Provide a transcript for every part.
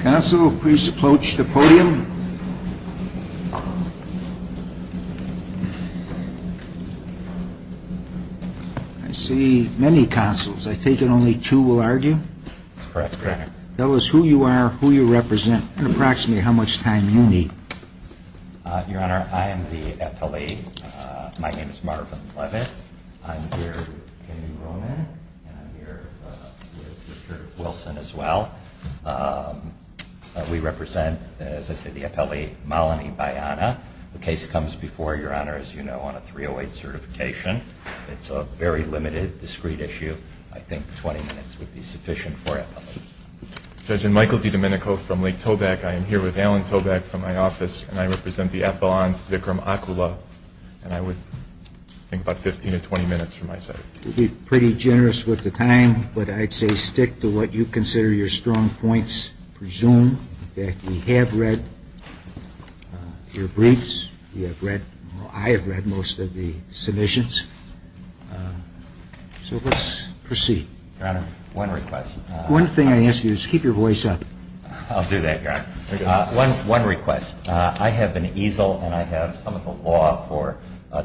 Council, please approach the podium. I see many councils. I think that only two will argue. That's correct, Your Honor. Tell us who you are, who you represent, and approximately how much time you need. Your Honor, I am the appellee. My name is Marvin Leavitt. I'm here with Jamie Roman, and I'm here with Richard Wilson as well. We represent, as I said, the appellee, Malini Byana. The case comes before Your Honor, as you know, on a 308 certification. It's a very limited, discrete issue. I think 20 minutes would be sufficient for appellees. Judge, I'm Michael DiDomenico from Lake Tobacco. I am here with Alan Tobacco from my office, and I represent the appellant, Vikram Akula. And I would think about 15 to 20 minutes for my side. It would be pretty generous with the time, but I'd say stick to what you consider your strong points. Presume that you have read your briefs. You have read or I have read most of the submissions. So let's proceed. Your Honor, one request. One thing I ask you is keep your voice up. I'll do that, Your Honor. One request. I have an easel, and I have some of the law for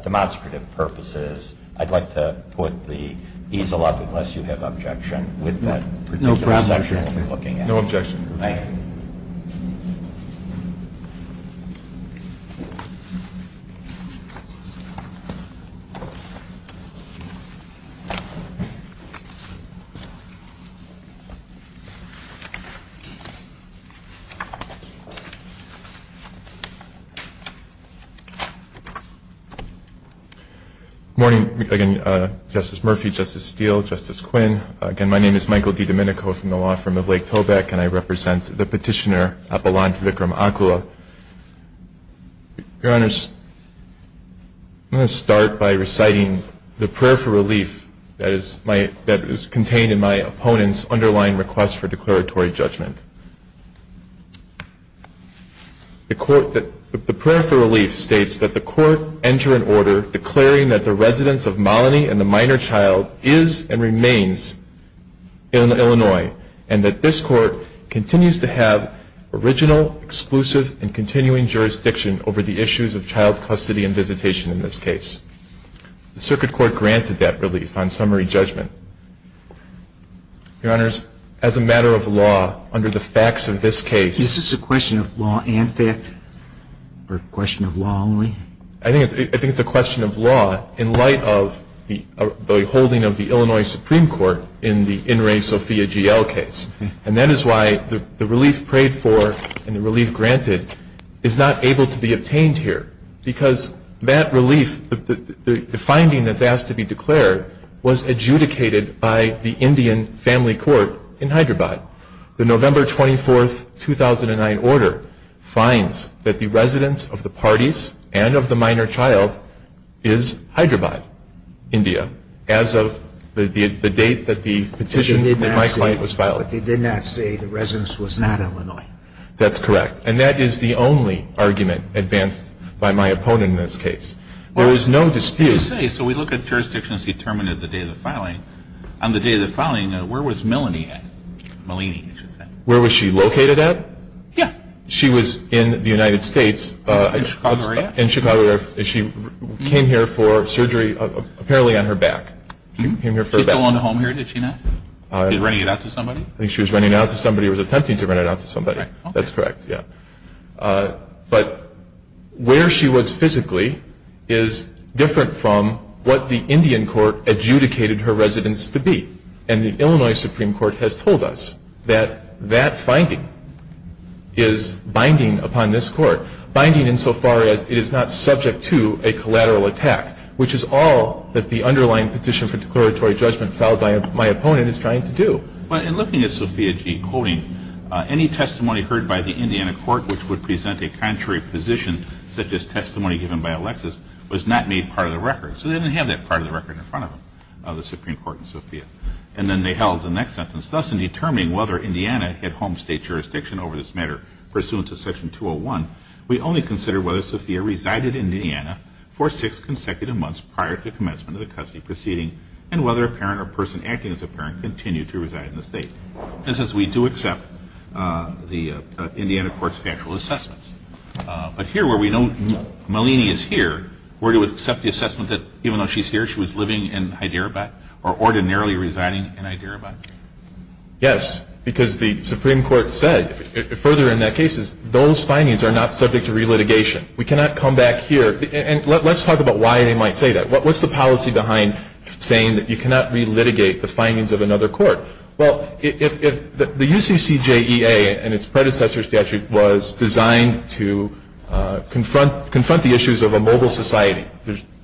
demonstrative purposes. I'd like to put the easel up unless you have objection with that particular section that we're looking at. No objection. Thank you. Good morning, again, Justice Murphy, Justice Steele, Justice Quinn. Again, my name is Michael DiDomenico from the law firm of Lake Tobacco, and I represent the petitioner, Appellant Vikram Akula. Your Honors, I'm going to start by reciting the prayer for relief that is contained in my opponent's underlying request for declaratory judgment. The prayer for relief states that the court enter an order declaring that the residence of Molony and the minor child is and remains in Illinois, and that this court continues to have original, exclusive, and continuing jurisdiction over the issues of child custody and visitation in this case. The Circuit Court granted that relief on summary judgment. Your Honors, as a matter of law, under the facts of this case. Is this a question of law and fact, or a question of law only? I think it's a question of law in light of the holding of the Illinois Supreme Court in the In Re Sofia GL case, and that is why the relief prayed for and the relief granted is not able to be obtained here, because that relief, the finding that's asked to be declared, was adjudicated by the Indian Family Court in Hyderabad. The November 24, 2009 order finds that the residence of the parties and of the minor child is Hyderabad, India, as of the date that the petition in my client was filed. But they did not say the residence was not Illinois. That's correct. And that is the only argument advanced by my opponent in this case. There was no dispute. So we look at jurisdictions determined at the date of the filing. On the day of the filing, where was Melanie at? Where was she located at? Yeah. She was in the United States. In Chicago area. In Chicago area. She came here for surgery apparently on her back. She still owned a home here, did she not? Running it out to somebody? I think she was running it out to somebody or was attempting to run it out to somebody. That's correct, yeah. But where she was physically is different from what the Indian Court adjudicated her residence to be. And the Illinois Supreme Court has told us that that finding is binding upon this Court, binding insofar as it is not subject to a collateral attack, which is all that the underlying petition for declaratory judgment filed by my opponent is trying to do. But in looking at Sophia G. quoting, any testimony heard by the Indiana Court which would present a contrary position, such as testimony given by Alexis, was not made part of the record. So they didn't have that part of the record in front of them, the Supreme Court and Sophia. And then they held the next sentence. Thus, in determining whether Indiana had home state jurisdiction over this matter, pursuant to Section 201, we only consider whether Sophia resided in Indiana for six consecutive months prior to the commencement of the custody proceeding and whether a parent or person acting as a parent continued to reside in the state. And since we do accept the Indiana Court's factual assessments. But here where we know Malini is here, we're to accept the assessment that even though she's here, she was living in Hyderabad or ordinarily residing in Hyderabad. Yes, because the Supreme Court said, further in that case, those findings are not subject to relitigation. We cannot come back here. And let's talk about why they might say that. What's the policy behind saying that you cannot relitigate the findings of another court? Well, the UCCJEA and its predecessor statute was designed to confront the issues of a mobile society.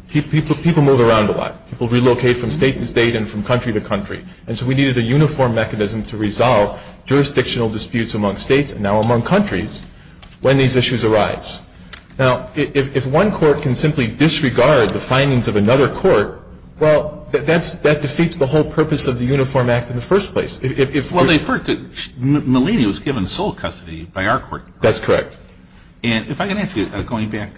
People move around a lot. People relocate from state to state and from country to country. And so we needed a uniform mechanism to resolve jurisdictional disputes among states and now among countries when these issues arise. Now, if one court can simply disregard the findings of another court, well, that defeats the whole purpose of the Uniform Act in the first place. Well, they've heard that Malini was given sole custody by our court. That's correct. And if I can ask you, going back,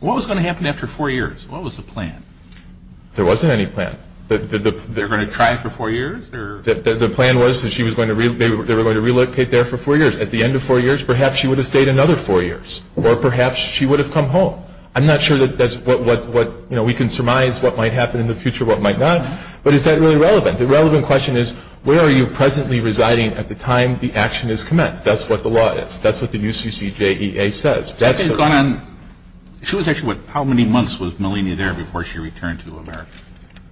what was going to happen after four years? What was the plan? There wasn't any plan. They were going to try for four years? The plan was that they were going to relocate there for four years. At the end of four years, perhaps she would have stayed another four years, or perhaps she would have come home. I'm not sure that that's what we can surmise what might happen in the future, what might not. But is that really relevant? The relevant question is where are you presently residing at the time the action is commenced? That's what the law is. That's what the UCCJEA says. She was actually, what, how many months was Malini there before she returned to America?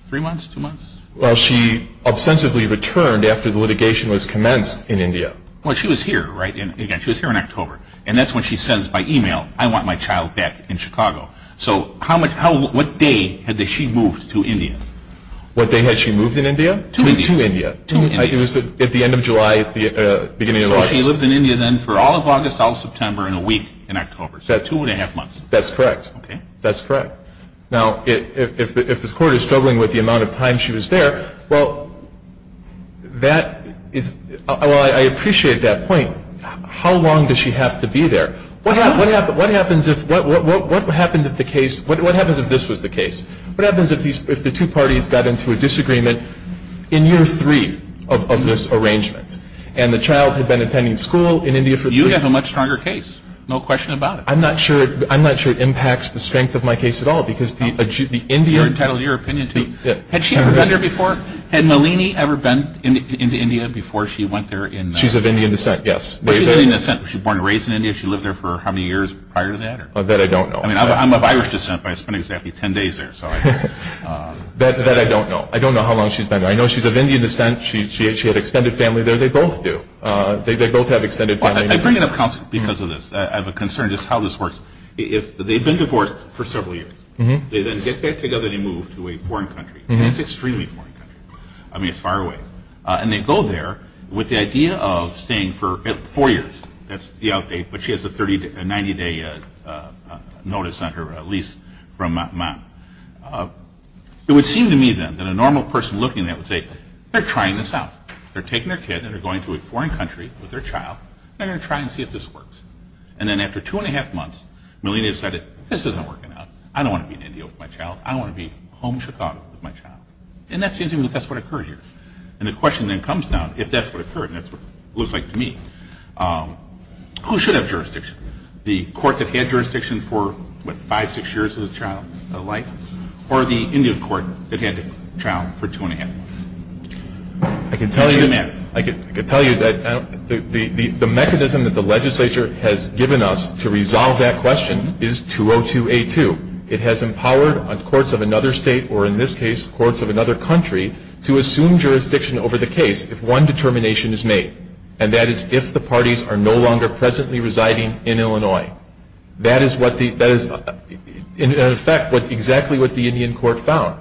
Three months? Two months? Well, she ostensibly returned after the litigation was commenced in India. Well, she was here, right? She was here in October. And that's when she says by e-mail, I want my child back in Chicago. So what day had she moved to India? What day had she moved in India? To India. To India. It was at the end of July, beginning of August. So she lived in India then for all of August, all of September, and a week in October. So two and a half months. That's correct. Okay. That's correct. Now, if this Court is struggling with the amount of time she was there, well, that is, well, I appreciate that point. How long does she have to be there? What happens if the case, what happens if this was the case? What happens if the two parties got into a disagreement in year three of this arrangement and the child had been attending school in India for three months? You have a much stronger case. No question about it. I'm not sure it impacts the strength of my case at all because the Indian You're entitled to your opinion, too. Had she ever been there before? Had Malini ever been into India before she went there? She's of Indian descent, yes. She's born and raised in India. She lived there for how many years prior to that? That I don't know. I mean, I'm of Irish descent, but I spent exactly ten days there. That I don't know. I don't know how long she's been there. I know she's of Indian descent. She had extended family there. They both do. They both have extended family. I bring it up because of this. I have a concern just how this works. If they've been divorced for several years, they then get back together, and then they move to a foreign country. That's extremely foreign country. I mean, it's far away. And they go there with the idea of staying for four years. That's the outdate. But she has a 90-day notice on her lease from Ma. It would seem to me, then, that a normal person looking at that would say, They're trying this out. They're taking their kid, and they're going to a foreign country with their child, and they're going to try and see if this works. And then after two and a half months, Malini decided, This isn't working out. I don't want to be an Indian with my child. I want to be home in Chicago with my child. And that seems to me that's what occurred here. And the question then comes down, if that's what occurred, and that's what it looks like to me, who should have jurisdiction? The court that had jurisdiction for, what, five, six years of the child's life? Or the Indian court that had the child for two and a half months? I can tell you the mechanism that the legislature has given us to resolve that question is 202A2. It has empowered courts of another state, or in this case, courts of another country, to assume jurisdiction over the case if one determination is made, and that is if the parties are no longer presently residing in Illinois. That is, in effect, exactly what the Indian court found.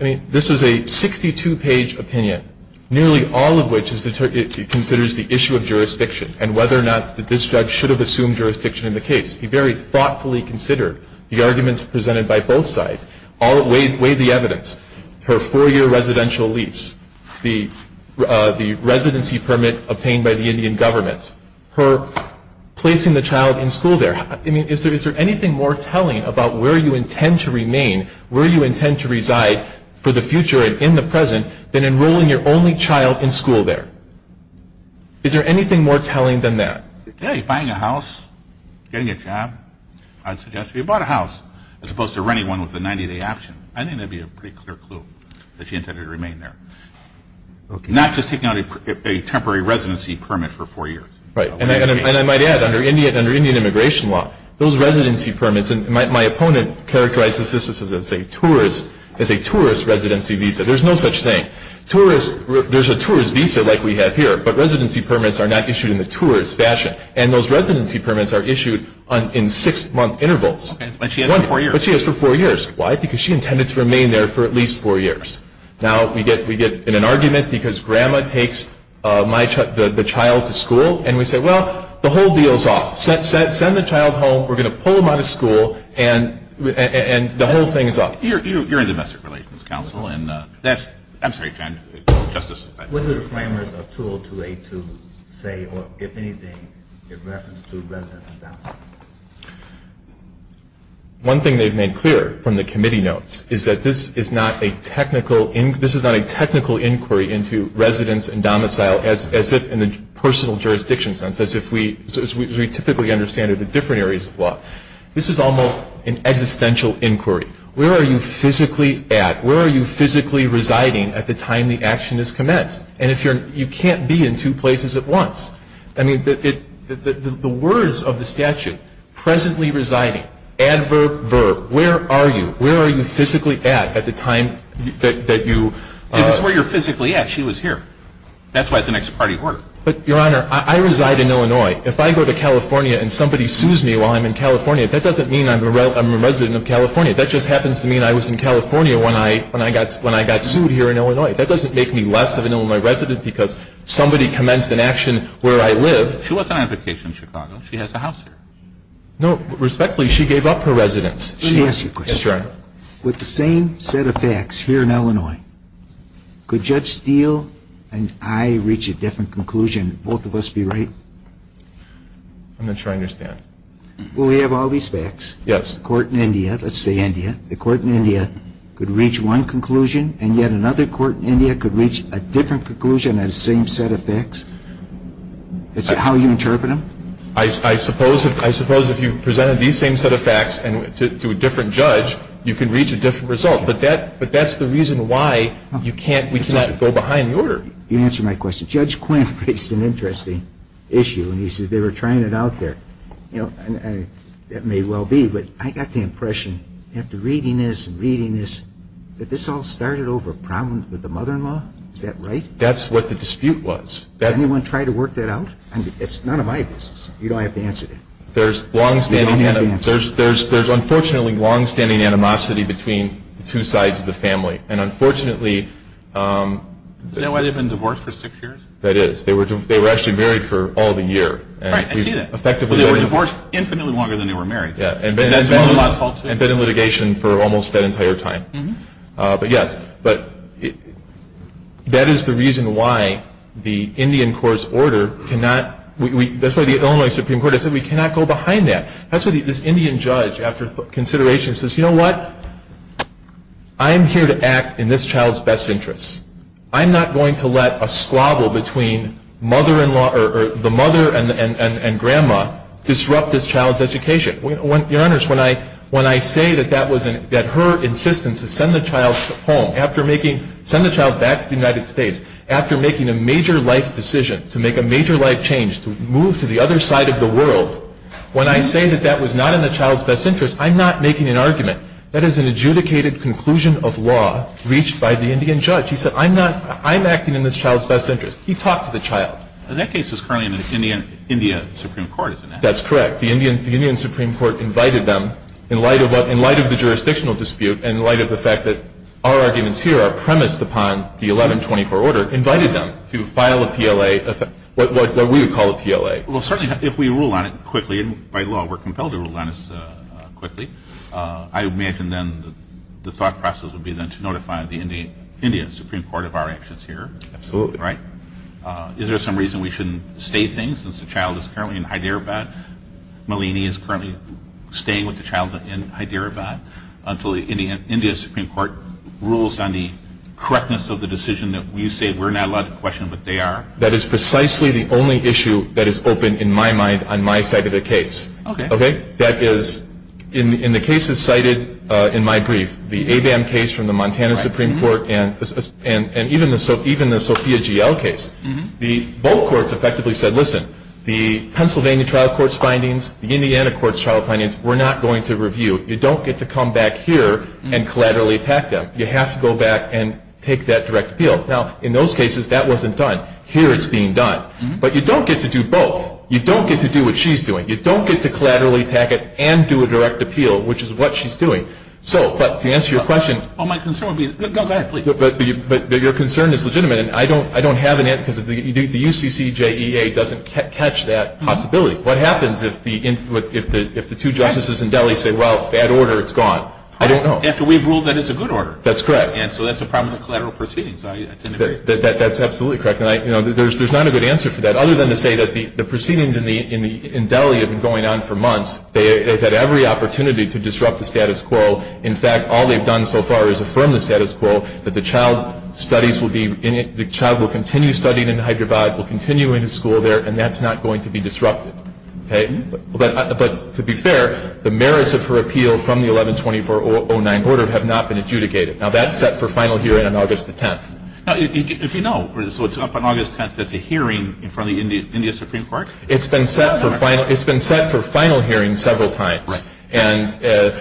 I mean, this was a 62-page opinion, nearly all of which considers the issue of jurisdiction and whether or not this judge should have assumed jurisdiction in the case. He very thoughtfully considered the arguments presented by both sides, weighed the evidence. Her four-year residential lease, the residency permit obtained by the Indian government, her placing the child in school there, I mean, is there anything more telling about where you intend to remain, where you intend to reside for the future and in the present, than enrolling your only child in school there? Is there anything more telling than that? Yeah, you're buying a house, getting a job. I'd suggest if you bought a house, as opposed to renting one with a 90-day option, I think that would be a pretty clear clue that you intended to remain there. Not just taking out a temporary residency permit for four years. Right. And I might add, under Indian immigration law, those residency permits, and my opponent characterized this as a tourist residency visa. There's no such thing. There's a tourist visa like we have here, but residency permits are not issued in the tourist fashion. And those residency permits are issued in six-month intervals. But she has it for four years. But she has it for four years. Why? Because she intended to remain there for at least four years. Now, we get in an argument because Grandma takes the child to school, and we say, well, the whole deal is off. Send the child home. We're going to pull them out of school, and the whole thing is off. You're in the Domestic Relations Council, and that's – I'm sorry, Justice. What do the framers of 20282 say, or if anything, in reference to residence and domicile? One thing they've made clear from the committee notes is that this is not a technical – this is not a technical inquiry into residence and domicile as if in the personal jurisdiction sense, as we typically understand it in different areas of law. This is almost an existential inquiry. Where are you physically at? At the time the action is commenced. And if you're – you can't be in two places at once. I mean, the words of the statute, presently residing, adverb, verb, where are you? Where are you physically at at the time that you – It was where you're physically at. She was here. That's why it's an ex parte order. But, Your Honor, I reside in Illinois. If I go to California and somebody sues me while I'm in California, that doesn't mean I'm a resident of California. That just happens to mean I was in California when I got sued here in Illinois. That doesn't make me less of an Illinois resident because somebody commenced an action where I live. She wasn't on vacation in Chicago. She has a house here. No, respectfully, she gave up her residence. Let me ask you a question. Yes, Your Honor. With the same set of facts here in Illinois, could Judge Steele and I reach a different conclusion? Would both of us be right? I'm not sure I understand. Well, we have all these facts. Yes. The court in India – let's say India – the court in India could reach one conclusion, and yet another court in India could reach a different conclusion on the same set of facts. Is that how you interpret them? I suppose if you presented these same set of facts to a different judge, you could reach a different result. But that's the reason why you can't – we cannot go behind the order. You answered my question. Judge Quinn raised an interesting issue, and he says they were trying it out there. That may well be, but I got the impression after reading this and reading this that this all started over a problem with the mother-in-law. Is that right? That's what the dispute was. Did anyone try to work that out? It's none of my business. You don't have to answer that. There's longstanding – there's unfortunately longstanding animosity between the two sides of the family, and unfortunately – Is that why they've been divorced for six years? That is. They were actually married for all the year. Right, I see that. So they were divorced infinitely longer than they were married. And been in litigation for almost that entire time. But yes, that is the reason why the Indian Court's order cannot – that's why the Illinois Supreme Court has said we cannot go behind that. That's why this Indian judge, after consideration, says, you know what? I'm here to act in this child's best interests. I'm not going to let a squabble between the mother and grandma disrupt this child's education. Your Honors, when I say that her insistence to send the child home, send the child back to the United States after making a major life decision, to make a major life change, to move to the other side of the world, when I say that that was not in the child's best interests, I'm not making an argument. That is an adjudicated conclusion of law reached by the Indian judge. He said I'm acting in this child's best interests. He talked to the child. And that case is currently in the Indian Supreme Court. That's correct. The Indian Supreme Court invited them, in light of the jurisdictional dispute and in light of the fact that our arguments here are premised upon the 1124 order, invited them to file a PLA, what we would call a PLA. Well, certainly if we rule on it quickly, and by law we're compelled to rule on this quickly, I imagine then the thought process would be then to notify the Indian Supreme Court of our actions here. Absolutely. Right? Is there some reason we shouldn't stay things since the child is currently in Hyderabad? Malini is currently staying with the child in Hyderabad until the Indian Supreme Court rules on the correctness of the decision that you say we're not allowed to question what they are? That is precisely the only issue that is open in my mind on my side of the case. Okay. That is, in the cases cited in my brief, the ABAM case from the Montana Supreme Court and even the Sophia GL case, both courts effectively said, listen, the Pennsylvania trial court's findings, the Indiana court's trial findings, we're not going to review. You don't get to come back here and collaterally attack them. You have to go back and take that direct appeal. Now, in those cases, that wasn't done. Here it's being done. But you don't get to do both. You don't get to do what she's doing. You don't get to collaterally attack it and do a direct appeal, which is what she's doing. So, but to answer your question. Well, my concern would be. Go ahead, please. But your concern is legitimate. And I don't have an answer because the UCCJEA doesn't catch that possibility. What happens if the two justices in Delhi say, well, bad order, it's gone? I don't know. After we've ruled that it's a good order. That's correct. And so that's a problem with the collateral proceedings. I didn't agree. That's absolutely correct. And, you know, there's not a good answer for that, other than to say that the proceedings in Delhi have been going on for months. They've had every opportunity to disrupt the status quo. In fact, all they've done so far is affirm the status quo that the child will continue studying in Hyderabad, will continue in his school there, and that's not going to be disrupted. Okay? But to be fair, the merits of her appeal from the 11-2409 order have not been adjudicated. Now, that's set for final hearing on August the 10th. If you know, so it's up on August 10th, there's a hearing in front of the India Supreme Court? It's been set for final hearing several times. Right. And the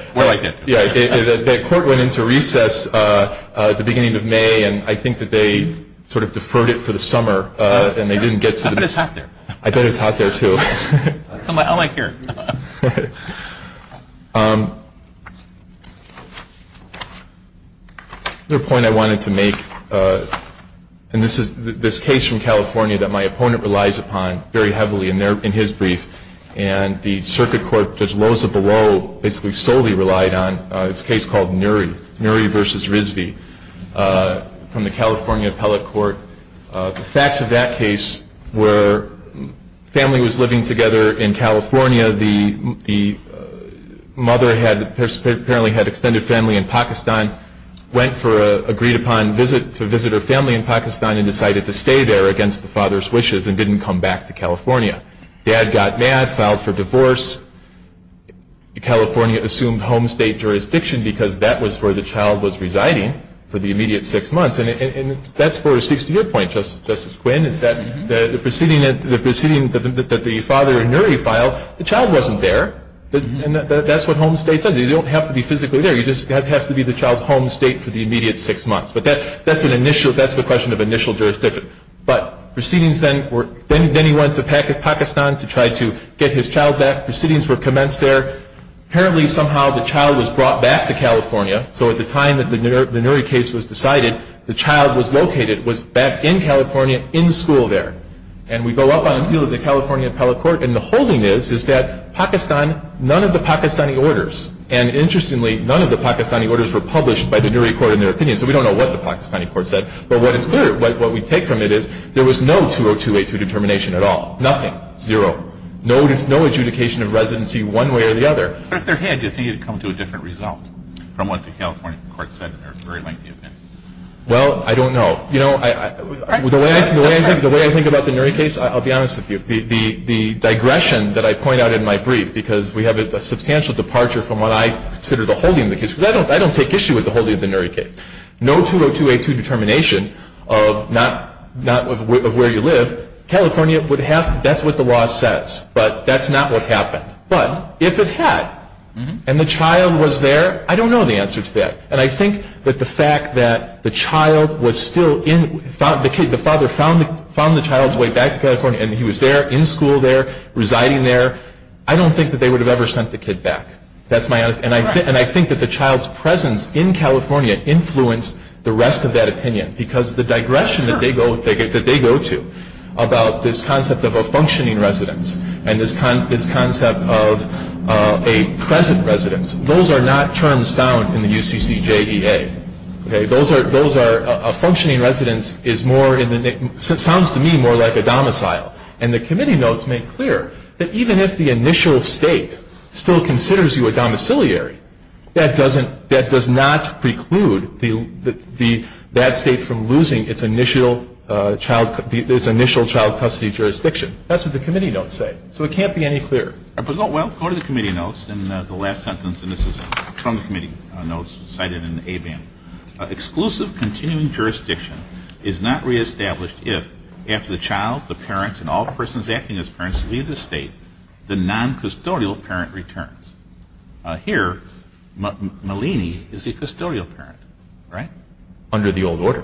court went into recess at the beginning of May, and I think that they sort of deferred it for the summer, and they didn't get to the meeting. I bet it's hot there. I bet it's hot there, too. I like here. Another point I wanted to make, and this is this case from California that my opponent relies upon very heavily in his brief, and the circuit court, Judge Loza-Below, basically solely relied on, this case called Nury, Nury v. Rizvi, from the California Appellate Court. The facts of that case were family was living together in California, the mother apparently had extended family in Pakistan, went for an agreed-upon visit to visit her family in Pakistan and decided to stay there against the father's wishes and didn't come back to California. Dad got mad, filed for divorce, California assumed home state jurisdiction because that was where the child was residing for the immediate six months, and that sort of speaks to your point, Justice Quinn, is that the proceeding that the father in Nury filed, the child wasn't there, and that's what home state said. You don't have to be physically there. It just has to be the child's home state for the immediate six months. But that's an initial, that's the question of initial jurisdiction. But proceedings then were, then he went to Pakistan to try to get his child back. Proceedings were commenced there. Apparently somehow the child was brought back to California, so at the time that the Nury case was decided, the child was located, was back in California in school there. And we go up on appeal of the California appellate court, and the holding is that Pakistan, none of the Pakistani orders, and interestingly none of the Pakistani orders were published by the Nury court in their opinion, so we don't know what the Pakistani court said. But what is clear, what we take from it is there was no 20282 determination at all, nothing, zero. No adjudication of residency one way or the other. But if there had, do you think it would come to a different result from what the California court said in their very lengthy opinion? Well, I don't know. You know, the way I think about the Nury case, I'll be honest with you, the digression that I point out in my brief, because we have a substantial departure from what I consider the holding of the case, because I don't take issue with the holding of the Nury case. No 20282 determination of not, of where you live, California would have, that's what the law says, but that's not what happened. But if it had, and the child was there, I don't know the answer to that. And I think that the fact that the child was still in, the father found the child's way back to California and he was there, in school there, residing there, I don't think that they would have ever sent the kid back. That's my honest, and I think that the child's presence in California influenced the rest of that opinion, because the digression that they go to about this concept of a functioning residence and this concept of a present residence, those are not terms found in the UCCJEA. Those are, a functioning residence is more, sounds to me more like a domicile. And the committee notes make clear that even if the initial state still considers you a domiciliary, that does not preclude that state from losing its initial child custody jurisdiction. That's what the committee notes say. So it can't be any clearer. Well, go to the committee notes in the last sentence, and this is from the committee notes cited in the ABAN. Exclusive continuing jurisdiction is not reestablished if, after the child, the parents, and all persons acting as parents leave the state, the non-custodial parent returns. Here, Malini is a custodial parent, right? Under the old order.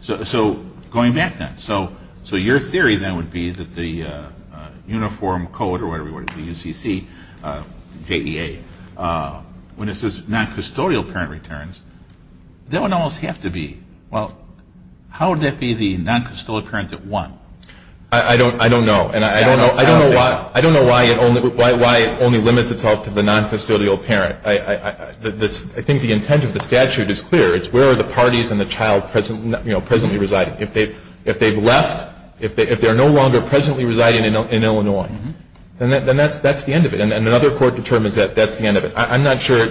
So going back then, so your theory then would be that the uniform code or whatever you want to call it, the UCCJEA, when it says non-custodial parent returns, that would almost have to be, well, how would that be the non-custodial parent at one? I don't know. And I don't know why it only limits itself to the non-custodial parent. I think the intent of the statute is clear. It's where are the parties and the child presently residing. If they've left, if they're no longer presently residing in Illinois, then that's the end of it. And another court determines that that's the end of it. I'm not sure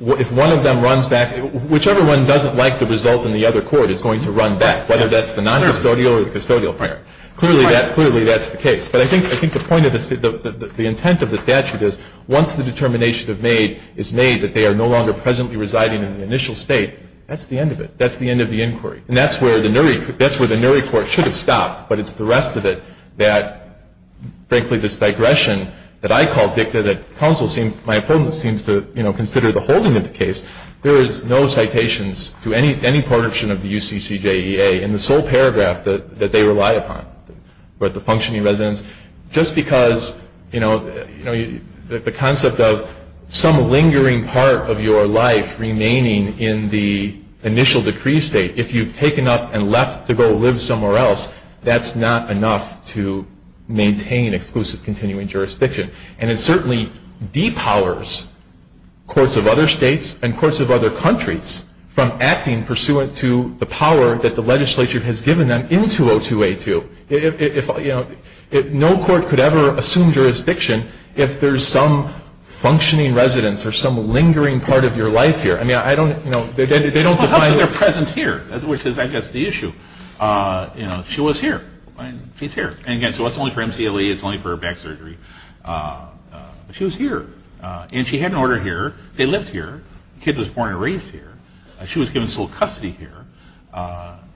if one of them runs back. Whichever one doesn't like the result in the other court is going to run back, whether that's the non-custodial or the custodial parent. Clearly that's the case. But I think the point of this, the intent of the statute is once the determination is made that they are no longer presently residing in the initial state, that's the end of it. That's the end of the inquiry. And that's where the Nury Court should have stopped. But it's the rest of it that, frankly, this digression that I call dicta, that my opponent seems to consider the holding of the case, there is no citations to any portion of the UCCJEA in the sole paragraph that they rely upon. We're at the functioning residence. Just because, you know, the concept of some lingering part of your life remaining in the initial decree state, if you've taken up and left to go live somewhere else, that's not enough to maintain exclusive continuing jurisdiction. And it certainly depowers courts of other states and courts of other countries from acting pursuant to the power that the legislature has given them into O2A2. If, you know, no court could ever assume jurisdiction if there's some functioning residence or some lingering part of your life here. I mean, I don't, you know, they don't define. Well, because they're present here, which is, I guess, the issue. You know, she was here. She's here. And, again, so it's only for MCLE. It's only for back surgery. She was here. And she had an order here. They lived here. The kid was born and raised here. She was given sole custody here.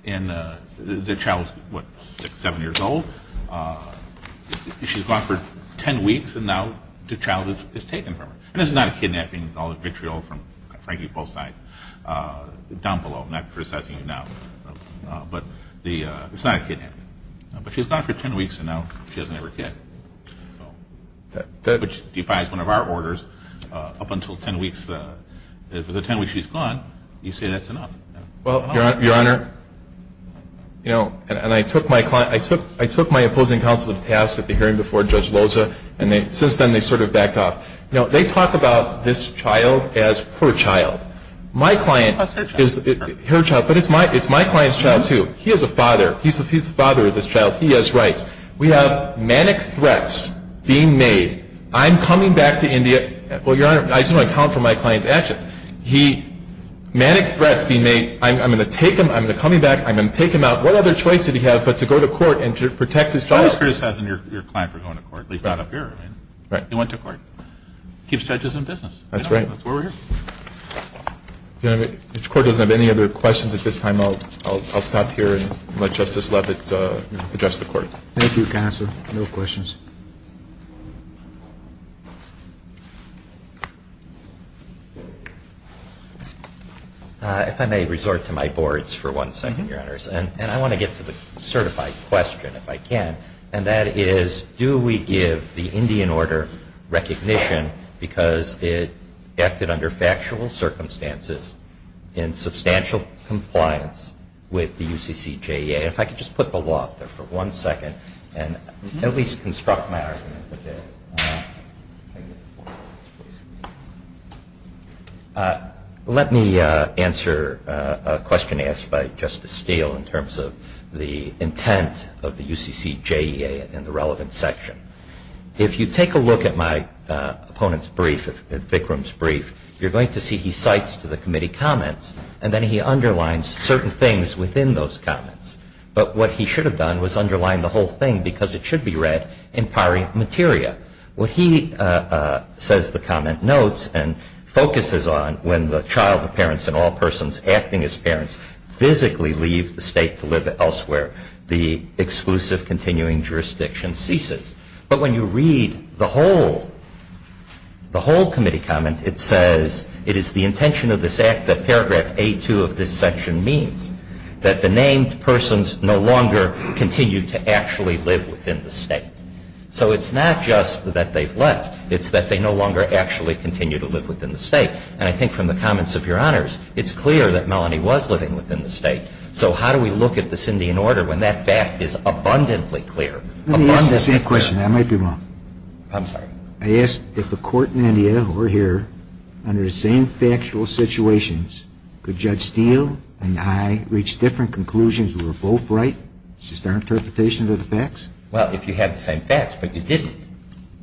And the child was, what, six, seven years old? She's gone for ten weeks, and now the child is taken from her. And it's not a kidnapping. All the vitriol from Frankie, both sides, down below. I'm not criticizing you now. But it's not a kidnapping. But she's gone for ten weeks, and now she doesn't have her kid. So, which defies one of our orders. Up until ten weeks, if for the ten weeks she's gone, you say that's enough. Well, Your Honor, you know, and I took my opposing counsel to task at the hearing before Judge Loza, and since then they sort of backed off. You know, they talk about this child as her child. My client is her child. But it's my client's child, too. He is a father. He's the father of this child. He has rights. We have manic threats being made. I'm coming back to India. Well, Your Honor, I just want to account for my client's actions. He, manic threats being made. I'm going to take him. I'm going to come back. I'm going to take him out. What other choice did he have but to go to court and to protect his child? I'm not criticizing your client for going to court. At least not up here. Right. He went to court. Keeps judges in business. That's right. That's why we're here. If the Court doesn't have any other questions at this time, I'll stop here and let Justice Leavitt address the Court. Thank you, Counsel. No questions. If I may resort to my boards for one second, Your Honors, and I want to get to the certified question if I can, and that is do we give the Indian Order recognition because it acted under factual circumstances in substantial compliance with the UCCJEA? If I could just put the law up there for one second and at least construct my argument. Let me answer a question asked by Justice Steele in terms of the intent of the UCCJEA and the relevant section. If you take a look at my opponent's brief, at Bikram's brief, you're going to see he cites to the committee comments and then he underlines certain things within those comments. But what he should have done was underline the whole thing because it should be read in pari materia. What he says the comment notes and focuses on when the child, the parents, and all persons acting as parents physically leave the state to live elsewhere, the exclusive continuing jurisdiction ceases. But when you read the whole committee comment, it says, it is the intention of this act that paragraph A2 of this section means that the named persons no longer continue to actually live within the state. So it's not just that they've left. It's that they no longer actually continue to live within the state. And I think from the comments of Your Honors, it's clear that Melanie was living within the state. So how do we look at this Indian order when that fact is abundantly clear? Let me ask the same question. I might be wrong. I'm sorry. I ask if the court in India, who are here, under the same factual situations, could Judge Steele and I reach different conclusions and we're both right? It's just our interpretation of the facts? Well, if you had the same facts, but you didn't.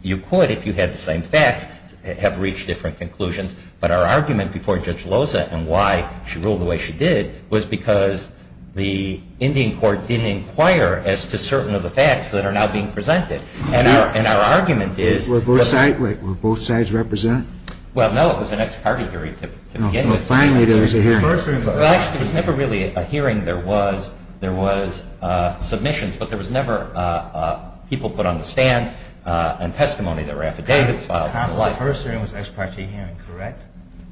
You could if you had the same facts, have reached different conclusions. But our argument before Judge Loza and why she ruled the way she did was because the Indian court didn't inquire as to certain of the facts that are now being presented. And our argument is- Were both sides represented? Well, no. It was an ex parte hearing to begin with. Well, finally there was a hearing. Well, actually, there was never really a hearing. There was submissions, but there was never people put on the stand and testimony that were affidavits filed. The first hearing was an ex parte hearing, correct?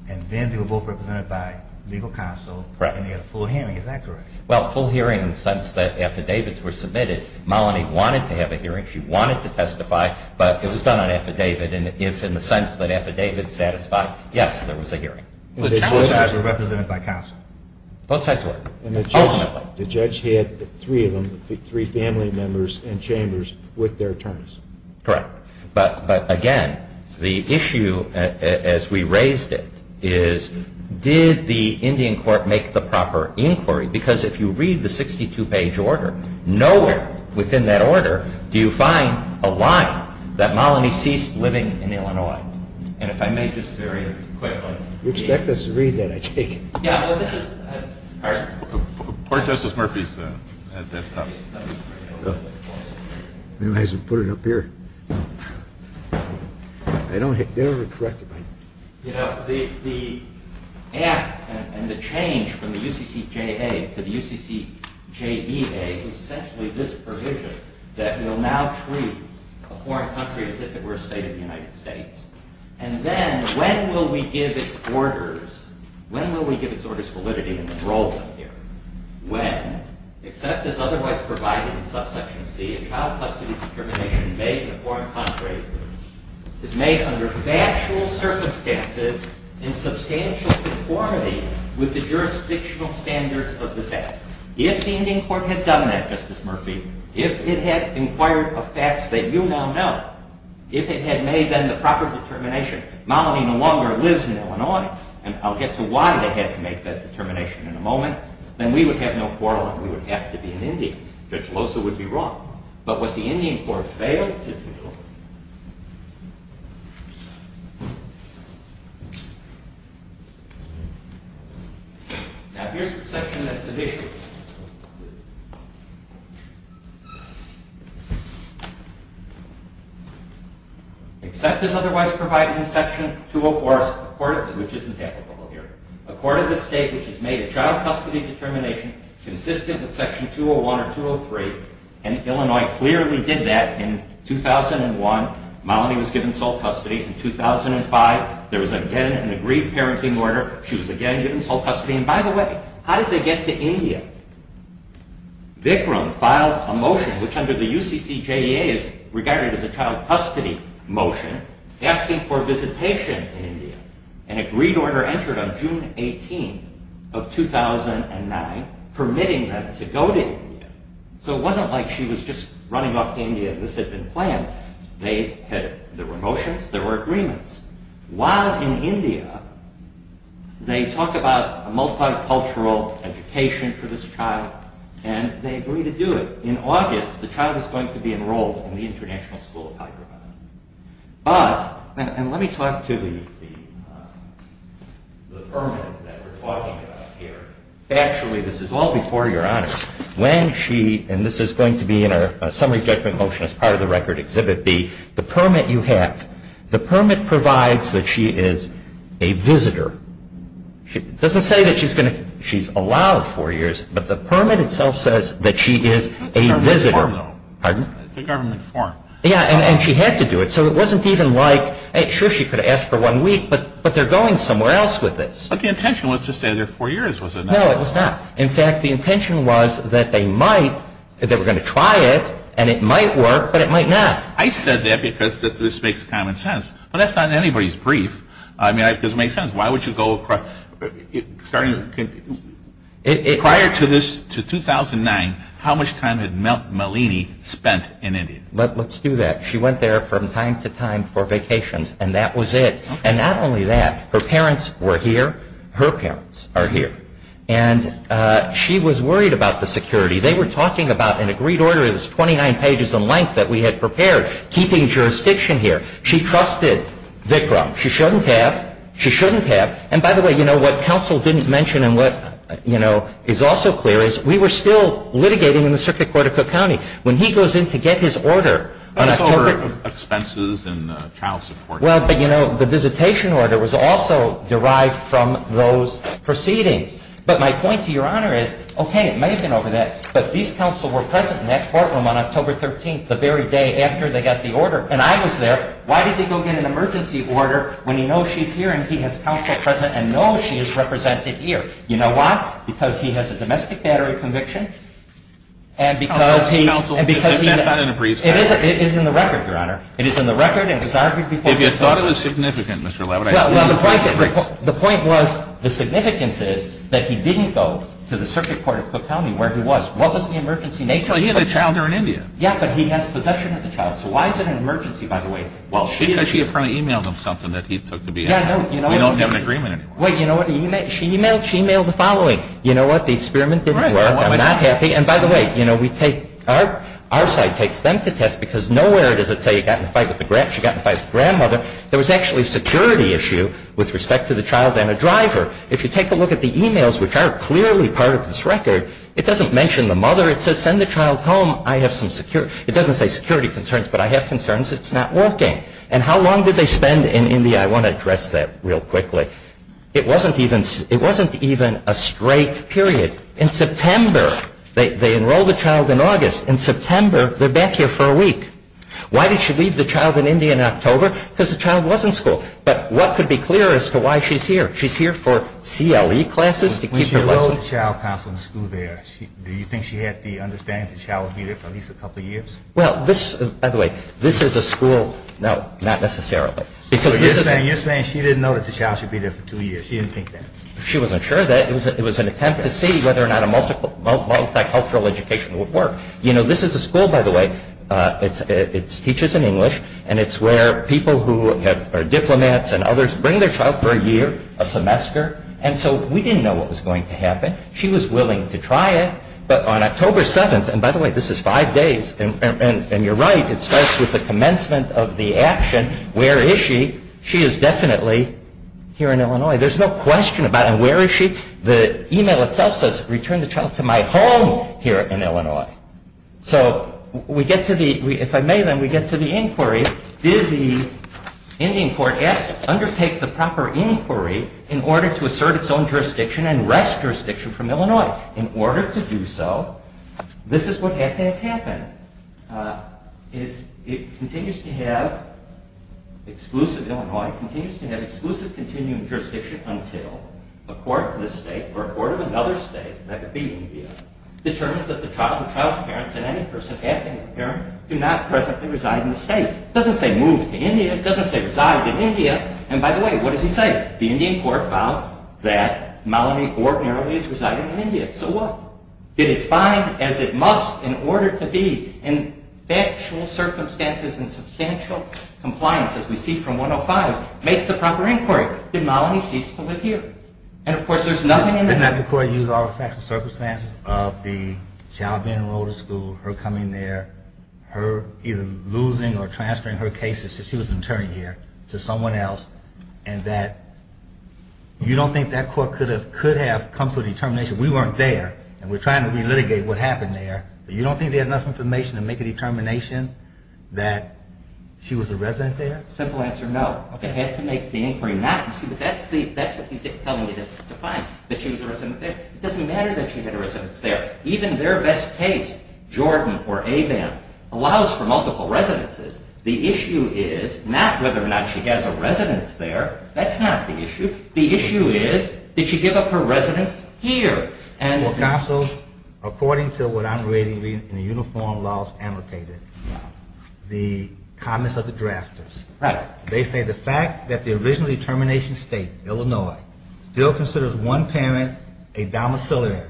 And then they were both represented by legal counsel. Correct. And they had a full hearing. Is that correct? Well, full hearing in the sense that affidavits were submitted. Malini wanted to have a hearing. She wanted to testify, but it was done on affidavit. And if in the sense that affidavit satisfied, yes, there was a hearing. Both sides were represented by counsel? Both sides were. And the judge had three of them, three family members and chambers with their attorneys? Correct. But, again, the issue as we raised it is did the Indian court make the proper inquiry? Because if you read the 62-page order, nowhere within that order do you find a line that Malini ceased living in Illinois. And if I may just very quickly. You expect us to read that, I take it. All right. Court Justice Murphy is at this time. Maybe I should put it up here. They don't have to correct it. You know, the act and the change from the UCCJA to the UCCJEA is essentially this provision that we'll now treat a foreign country as if it were a state of the United States. And then when will we give its orders, when will we give its orders validity in this role down here? When, except as otherwise provided in subsection C, a child custody determination made in a foreign country is made under factual circumstances in substantial conformity with the jurisdictional standards of this act. If the Indian court had done that, Justice Murphy, if it had inquired of facts that you now know, if it had made then the proper determination Malini no longer lives in Illinois, and I'll get to why they had to make that determination in a moment, then we would have no quarrel and we would have to be an Indian. Judge Loza would be wrong. But what the Indian court failed to do... Now here's the section that's at issue. Except as otherwise provided in section 204, which isn't applicable here, a court of the state which has made a child custody determination consistent with section 201 or 203, and Illinois clearly did that in 2001, Malini was given sole custody. In 2005, there was again an agreed parenting order, she was again given sole custody. And by the way, how did they get to India? Vikram filed a motion which under the UCCJEA is regarded as a child custody motion asking for visitation in India. An agreed order entered on June 18 of 2009 permitting them to go to India. So it wasn't like she was just running off to India and this had been planned. There were motions, there were agreements. While in India, they talk about a multicultural education for this child, and they agreed to do it. In August, the child is going to be enrolled in the International School of Hyderabad. But, and let me talk to the permit that we're talking about here. Factually, this is all before Your Honor. When she, and this is going to be in our summary judgment motion as part of the record exhibit B, the permit you have, the permit provides that she is a visitor. It doesn't say that she's going to, she's allowed four years, but the permit itself says that she is a visitor. It's a government form though. Pardon? It's a government form. Yeah, and she had to do it. So it wasn't even like, sure she could have asked for one week, but they're going somewhere else with this. But the intention was to stay there four years, was it not? No, it was not. In fact, the intention was that they might, that they were going to try it, and it might work, but it might not. I said that because this makes common sense. But that's not anybody's brief. I mean, because it makes sense. Why would you go across, starting, prior to this, to 2009, how much time had Malini spent in India? Let's do that. She went there from time to time for vacations, and that was it. And not only that, her parents were here. Her parents are here. And she was worried about the security. They were talking about an agreed order that was 29 pages in length that we had prepared, keeping jurisdiction here. She trusted Vikram. She shouldn't have. She shouldn't have. And, by the way, you know, what counsel didn't mention and what, you know, is also clear is we were still litigating in the circuit court of Cook County. When he goes in to get his order on October ---- But it's over expenses and child support. Well, but, you know, the visitation order was also derived from those proceedings. But my point to Your Honor is, okay, it may have been over that, but these counsel were present in that courtroom on October 13th, the very day after they got the order. And I was there. Why does he go get an emergency order when he knows she's here and he has counsel present and knows she is represented here? You know why? Because he has a domestic battery conviction and because he ---- Counsel, counsel, that's not in the briefs. It is. It is in the record, Your Honor. It is in the record and was argued before ---- If you thought it was significant, Mr. Levitt, I think you would agree. The point was, the significance is that he didn't go to the circuit court of Cook County where he was. What was the emergency nature? Well, he had a child there in India. Yeah, but he has possession of the child. So why is it an emergency, by the way? Because she apparently emailed him something that he took to be ---- We don't have an agreement anymore. Wait, you know what? She emailed the following. You know what? The experiment didn't work. I'm not happy. And by the way, you know, we take ---- Our side takes them to test because nowhere does it say he got in a fight with the ---- she got in a fight with his grandmother. There was actually a security issue with respect to the child and a driver. If you take a look at the emails, which are clearly part of this record, it doesn't mention the mother. It says, send the child home. I have some security ---- It doesn't say security concerns, but I have concerns it's not working. And how long did they spend in India? I want to address that real quickly. It wasn't even a straight period. In September, they enrolled the child in August. In September, they're back here for a week. Why did she leave the child in India in October? Because the child was in school. But what could be clearer as to why she's here? She's here for CLE classes to keep her lessons. When she enrolled the child in school there, do you think she had the understanding the child would be there for at least a couple of years? Well, this, by the way, this is a school, no, not necessarily. So you're saying she didn't know that the child should be there for two years. She didn't think that. She wasn't sure of that. It was an attempt to see whether or not a multicultural education would work. You know, this is a school, by the way. It teaches in English. And it's where people who are diplomats and others bring their child for a year, a semester. And so we didn't know what was going to happen. She was willing to try it. But on October 7th, and by the way, this is five days, and you're right, it starts with the commencement of the action. Where is she? She is definitely here in Illinois. There's no question about it. And where is she? The email itself says, return the child to my home here in Illinois. So we get to the, if I may then, we get to the inquiry. Did the Indian court, yes, undertake the proper inquiry in order to assert its own jurisdiction and wrest jurisdiction from Illinois? In order to do so, this is what had to have happened. It continues to have exclusive Illinois, continues to have exclusive continuing jurisdiction until a court of this state, determines that the child and child's parents and any person acting as a parent do not presently reside in the state. It doesn't say move to India. It doesn't say reside in India. And by the way, what does he say? The Indian court found that Malini ordinarily is residing in India. So what? Did it find, as it must in order to be in factual circumstances and substantial compliance, as we see from 105, make the proper inquiry? Did Malini cease to live here? And of course there's nothing in the Did not the court use all the facts and circumstances of the child being enrolled in school, her coming there, her either losing or transferring her cases since she was an attorney here to someone else, and that you don't think that court could have come to a determination, we weren't there and we're trying to re-litigate what happened there, but you don't think they had enough information to make a determination that she was a resident there? Simple answer, no. They had to make the inquiry, but that's what he's telling you to find, that she was a resident there. It doesn't matter that she had a residence there. Even their best case, Jordan or Abam, allows for multiple residences. The issue is not whether or not she has a residence there. That's not the issue. The issue is did she give up her residence here? Well, counsel, according to what I'm reading in the uniform laws annotated, the comments of the drafters, they say the fact that the original determination state, Illinois, still considers one parent a domiciliary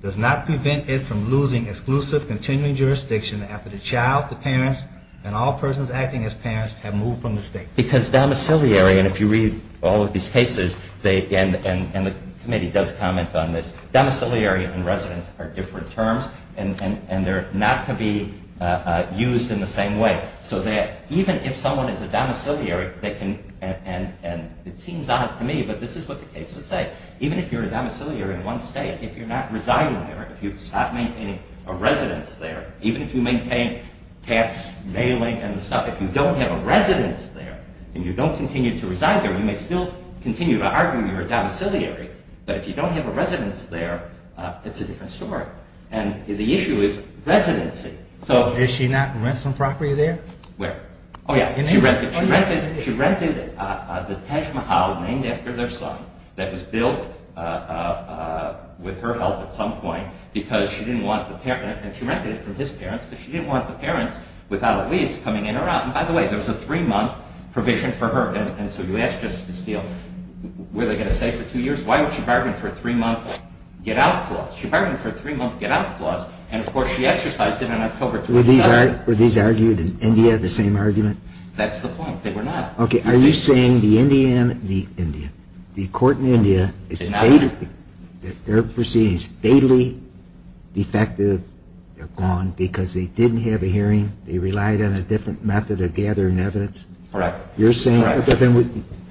does not prevent it from losing exclusive continuing jurisdiction after the child, the parents, and all persons acting as parents have moved from the state. Because domiciliary, and if you read all of these cases, and the committee does comment on this, domiciliary and residence are different terms and they're not to be used in the same way. So that even if someone is a domiciliary, they can, and it seems odd to me, but this is what the cases say, even if you're a domiciliary in one state, if you're not residing there, if you stop maintaining a residence there, even if you maintain tax mailing and stuff, if you don't have a residence there, and you don't continue to reside there, you may still continue to argue you're a domiciliary, but if you don't have a residence there, it's a different story. And the issue is residency. Did she not rent some property there? Where? Oh, yeah. She rented the Taj Mahal named after their son that was built with her help at some point because she didn't want the parent, and she rented it from his parents, because she didn't want the parents without a lease coming in or out. And by the way, there was a three-month provision for her, and so you ask Justice Spiel, were they going to stay for two years? Why would she bargain for a three-month get-out clause? She bargained for a three-month get-out clause, and, of course, she exercised it on October 27th. Were these argued in India, the same argument? That's the point. They were not. Okay. Are you saying the court in India, their proceedings, fatally defective, they're gone because they didn't have a hearing, they relied on a different method of gathering evidence? Correct. You're saying,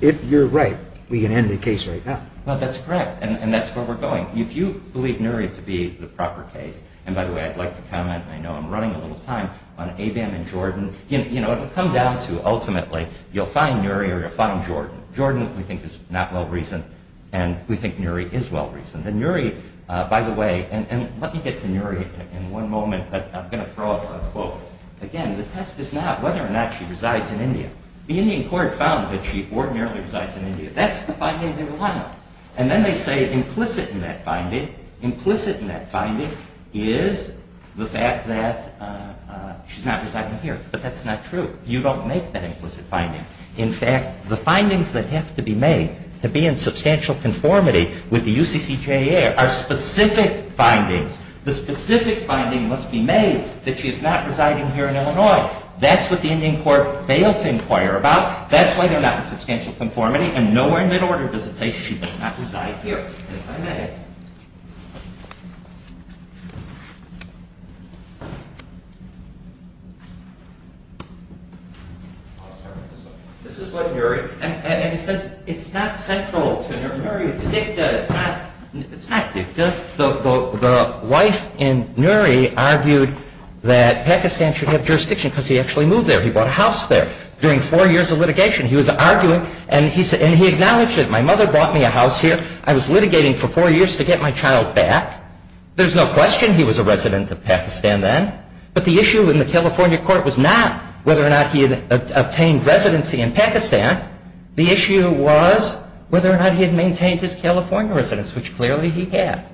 if you're right, we can end the case right now. Well, that's correct, and that's where we're going. If you believe Nuri to be the proper case, and, by the way, I'd like to comment, and I know I'm running a little time, on Abam and Jordan, it will come down to, ultimately, you'll find Nuri or you'll find Jordan. Jordan, we think, is not well-reasoned, and we think Nuri is well-reasoned. And Nuri, by the way, and let me get to Nuri in one moment, but I'm going to throw up a quote. Again, the test is not whether or not she resides in India. The Indian court found that she ordinarily resides in India. That's the finding they want. And then they say implicit in that finding is the fact that she's not residing here. But that's not true. You don't make that implicit finding. In fact, the findings that have to be made to be in substantial conformity with the UCCJA are specific findings. The specific finding must be made that she is not residing here in Illinois. That's what the Indian court failed to inquire about. That's why they're not in substantial conformity, and nowhere in their order does it say she does not reside here. This is what Nuri, and he says it's not central to Nuri. It's dicta. It's not dicta. The wife in Nuri argued that Pakistan should have jurisdiction because he actually moved there. He bought a house there during four years of litigation. He was arguing, and he acknowledged it. My mother bought me a house here. I was litigating for four years to get my child back. There's no question he was a resident of Pakistan then. But the issue in the California court was not whether or not he had obtained residency in Pakistan. The issue was whether or not he had maintained his California residence, which clearly he had.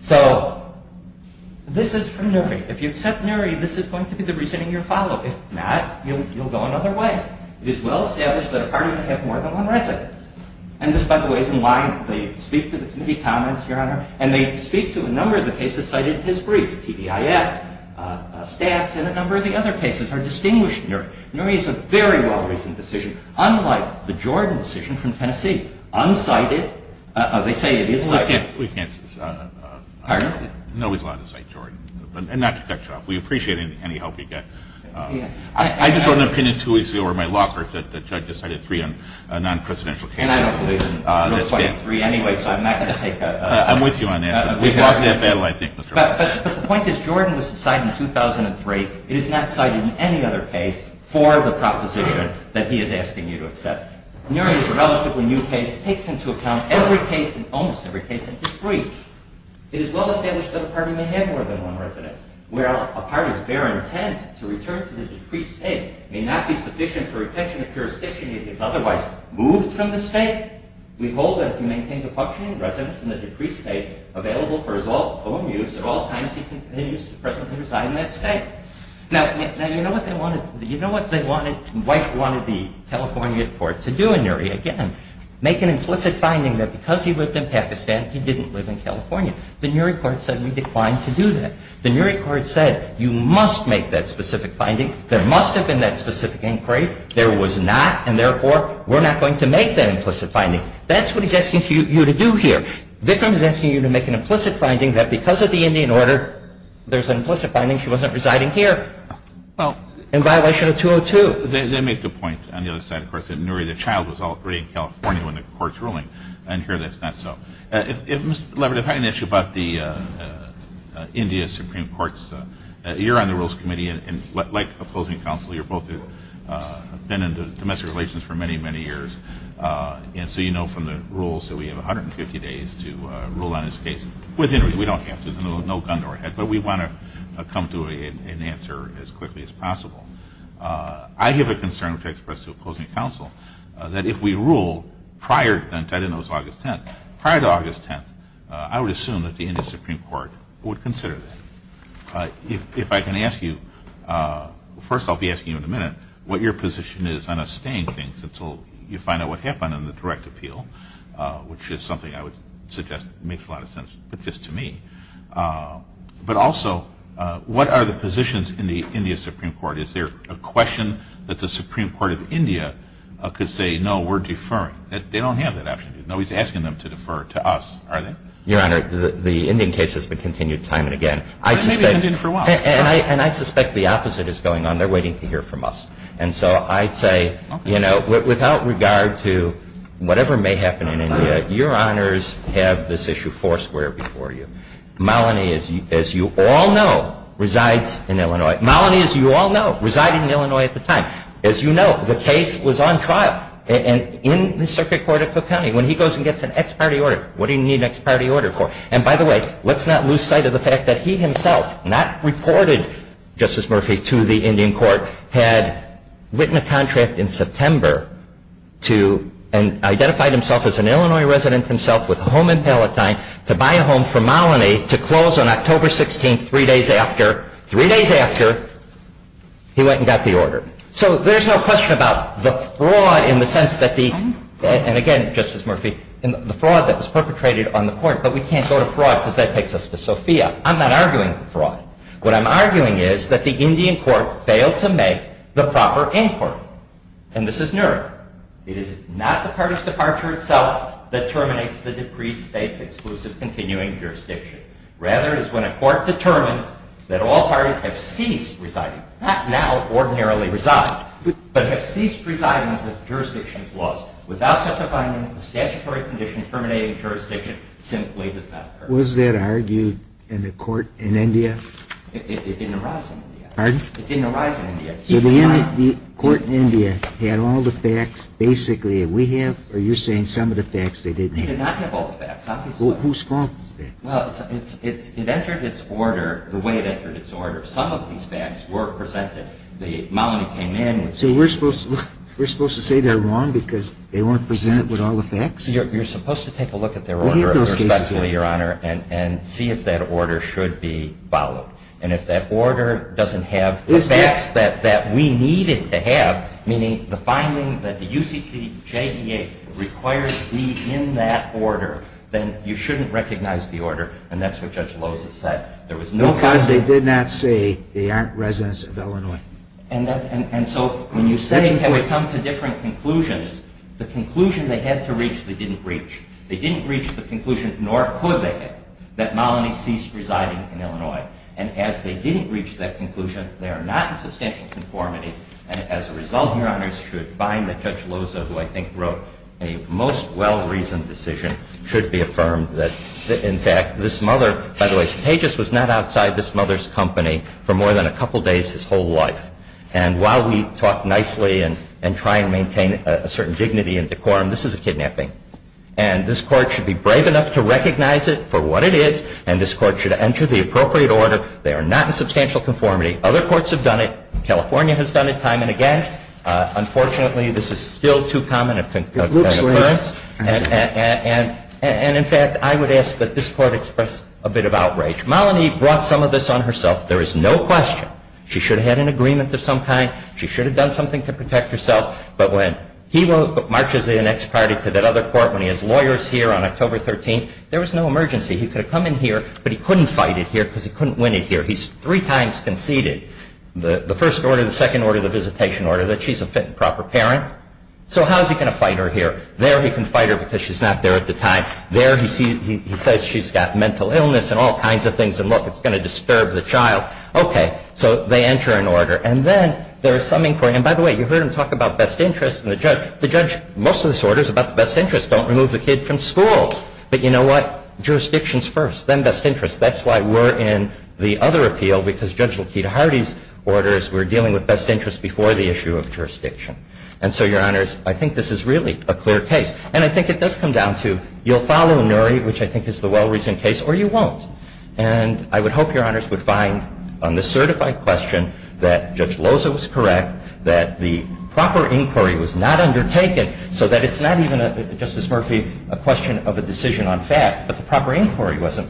So this is from Nuri. If you accept Nuri, this is going to be the reasoning you follow. If not, you'll go another way. It is well established that a partner can have more than one residence. And this, by the way, is in line. They speak to the committee comments, Your Honor, and they speak to a number of the cases cited in his brief, TBIF, stats, and a number of the other cases are distinguished in Nuri. Nuri is a very well-reasoned decision, unlike the Jordan decision from Tennessee, unsighted. They say it is sighted. We can't. Pardon? Nobody's allowed to cite Jordan, and not to cut you off. We appreciate any help you get. I just wrote an opinion two weeks ago where my law clerk said the judge decided three on a non-presidential case. And I don't believe it was quite a three anyway, so I'm not going to take that. I'm with you on that. We've lost that battle, I think. But the point is Jordan was cited in 2003. It is not cited in any other case for the proposition that he is asking you to accept. Nuri is a relatively new case. It takes into account every case and almost every case in his brief. It is well established that a partner may have more than one residence. A partner's bare intent to return to the decreased state may not be sufficient for retention of jurisdiction if he is otherwise moved from the state. We hold that if he maintains a functioning residence in the decreased state, available for his own use at all times, he continues to presently reside in that state. Now, you know what they wanted? White wanted the California court to do in Nuri. Again, make an implicit finding that because he lived in Pakistan, he didn't live in California. The Nuri court said we declined to do that. The Nuri court said you must make that specific finding. There must have been that specific inquiry. There was not, and therefore, we're not going to make that implicit finding. That's what he's asking you to do here. Vikram is asking you to make an implicit finding that because of the Indian order, there's an implicit finding. She wasn't residing here in violation of 202. They make the point on the other side, of course, that Nuri the child was operating in California when the court's ruling. And here that's not so. If Mr. Labrador had an issue about the India Supreme Court's, you're on the Rules Committee, and like opposing counsel, you've both been in domestic relations for many, many years. And so you know from the rules that we have 150 days to rule on this case. With Nuri, we don't have to. There's no gun to our head. But we want to come to an answer as quickly as possible. I have a concern, which I expressed to opposing counsel, that if we rule prior to August 10th, I would assume that the India Supreme Court would consider that. If I can ask you, first I'll be asking you in a minute, what your position is on us staying things until you find out what happened in the direct appeal, which is something I would suggest makes a lot of sense just to me. But also, what are the positions in the India Supreme Court? Is there a question that the Supreme Court of India could say, no, we're deferring? They don't have that option, do they? No, he's asking them to defer to us, are they? Your Honor, the Indian case has been continued time and again. And it may be continued for a while. And I suspect the opposite is going on. They're waiting to hear from us. And so I'd say, you know, without regard to whatever may happen in India, your honors have this issue foursquare before you. Malini, as you all know, resides in Illinois. Malini, as you all know, resided in Illinois at the time. As you know, the case was on trial in the circuit court of Cook County. When he goes and gets an ex parte order, what do you need an ex parte order for? And by the way, let's not lose sight of the fact that he himself, not reported, Justice Murphy, to the Indian court, had written a contract in September to identify himself as an Illinois resident himself with a home in Palatine to buy a home for Malini to close on October 16th, three days after, three days after he went and got the order. So there's no question about the fraud in the sense that the, and again, Justice Murphy, the fraud that was perpetrated on the court, but we can't go to fraud because that takes us to Sophia. I'm not arguing fraud. What I'm arguing is that the Indian court failed to make the proper inquiry. And this is Nuremberg. It is not the party's departure itself that terminates the decreed state's exclusive continuing jurisdiction. Rather, it is when a court determines that all parties have ceased residing, not now ordinarily reside, but have ceased residing under the jurisdiction's laws without such a finding that the statutory condition terminating jurisdiction simply does not occur. Was that argued in the court in India? It didn't arise in India. Pardon? It didn't arise in India. So the court in India had all the facts basically that we have, or you're saying some of the facts they didn't have? They did not have all the facts, obviously. Who's fault is that? Well, it entered its order the way it entered its order. Some of these facts were presented. The nominee came in. So we're supposed to say they're wrong because they weren't presented with all the facts? You're supposed to take a look at their order respectfully, Your Honor, and see if that order should be followed. And if that order doesn't have the facts that we need it to have, then you shouldn't recognize the order. And that's what Judge Loza said. No, because they did not say they aren't residents of Illinois. And so when you say can we come to different conclusions, the conclusion they had to reach they didn't reach. They didn't reach the conclusion, nor could they, that Malini ceased residing in Illinois. And as they didn't reach that conclusion, they are not in substantial conformity. And as a result, Your Honors, you should find that Judge Loza, who I think wrote a most well-reasoned decision, should be affirmed that, in fact, this mother, by the way, Cetagius was not outside this mother's company for more than a couple days his whole life. And while we talk nicely and try and maintain a certain dignity and decorum, this is a kidnapping. And this Court should be brave enough to recognize it for what it is, and this Court should enter the appropriate order. They are not in substantial conformity. Other courts have done it. California has done it time and again. Unfortunately, this is still too common an occurrence. And, in fact, I would ask that this Court express a bit of outrage. Malini brought some of this on herself. There is no question she should have had an agreement of some kind. She should have done something to protect herself. But when he marches the next party to that other court, when he has lawyers here on October 13th, there was no emergency. He could have come in here, but he couldn't fight it here because he couldn't win it here. He's three times conceded the first order, the second order, the visitation order, that she's a fit and proper parent. So how is he going to fight her here? There he can fight her because she's not there at the time. There he says she's got mental illness and all kinds of things, and, look, it's going to disturb the child. Okay. So they enter an order. And then there is some inquiry. And, by the way, you heard him talk about best interests and the judge. The judge, most of this order is about the best interests. Don't remove the kid from school. But you know what? Jurisdictions first, then best interests. That's why we're in the other appeal, because Judge Lakita Hardy's orders, we're dealing with best interests before the issue of jurisdiction. And so, Your Honors, I think this is really a clear case. And I think it does come down to you'll follow Nury, which I think is the well-reasoned case, or you won't. And I would hope Your Honors would find on the certified question that Judge Loza was correct, that the proper inquiry was not undertaken so that it's not even, Justice Murphy, a question of a decision on fact, but the proper inquiry wasn't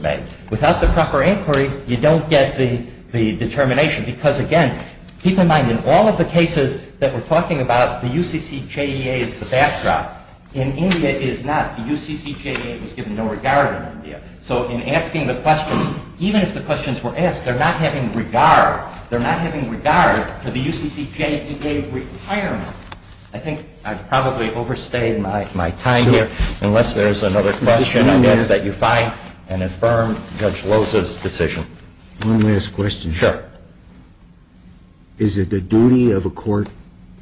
Without the proper inquiry, you don't get the determination because, again, keep in mind, in all of the cases that we're talking about, the UCCJEA is the backdrop. In India, it is not. The UCCJEA was given no regard in India. So in asking the questions, even if the questions were asked, they're not having regard. They're not having regard for the UCCJEA requirement. I think I've probably overstayed my time here. Unless there's another question, I guess, that you find and affirm Judge Loza's decision. One last question. Sure. Is it the duty of a court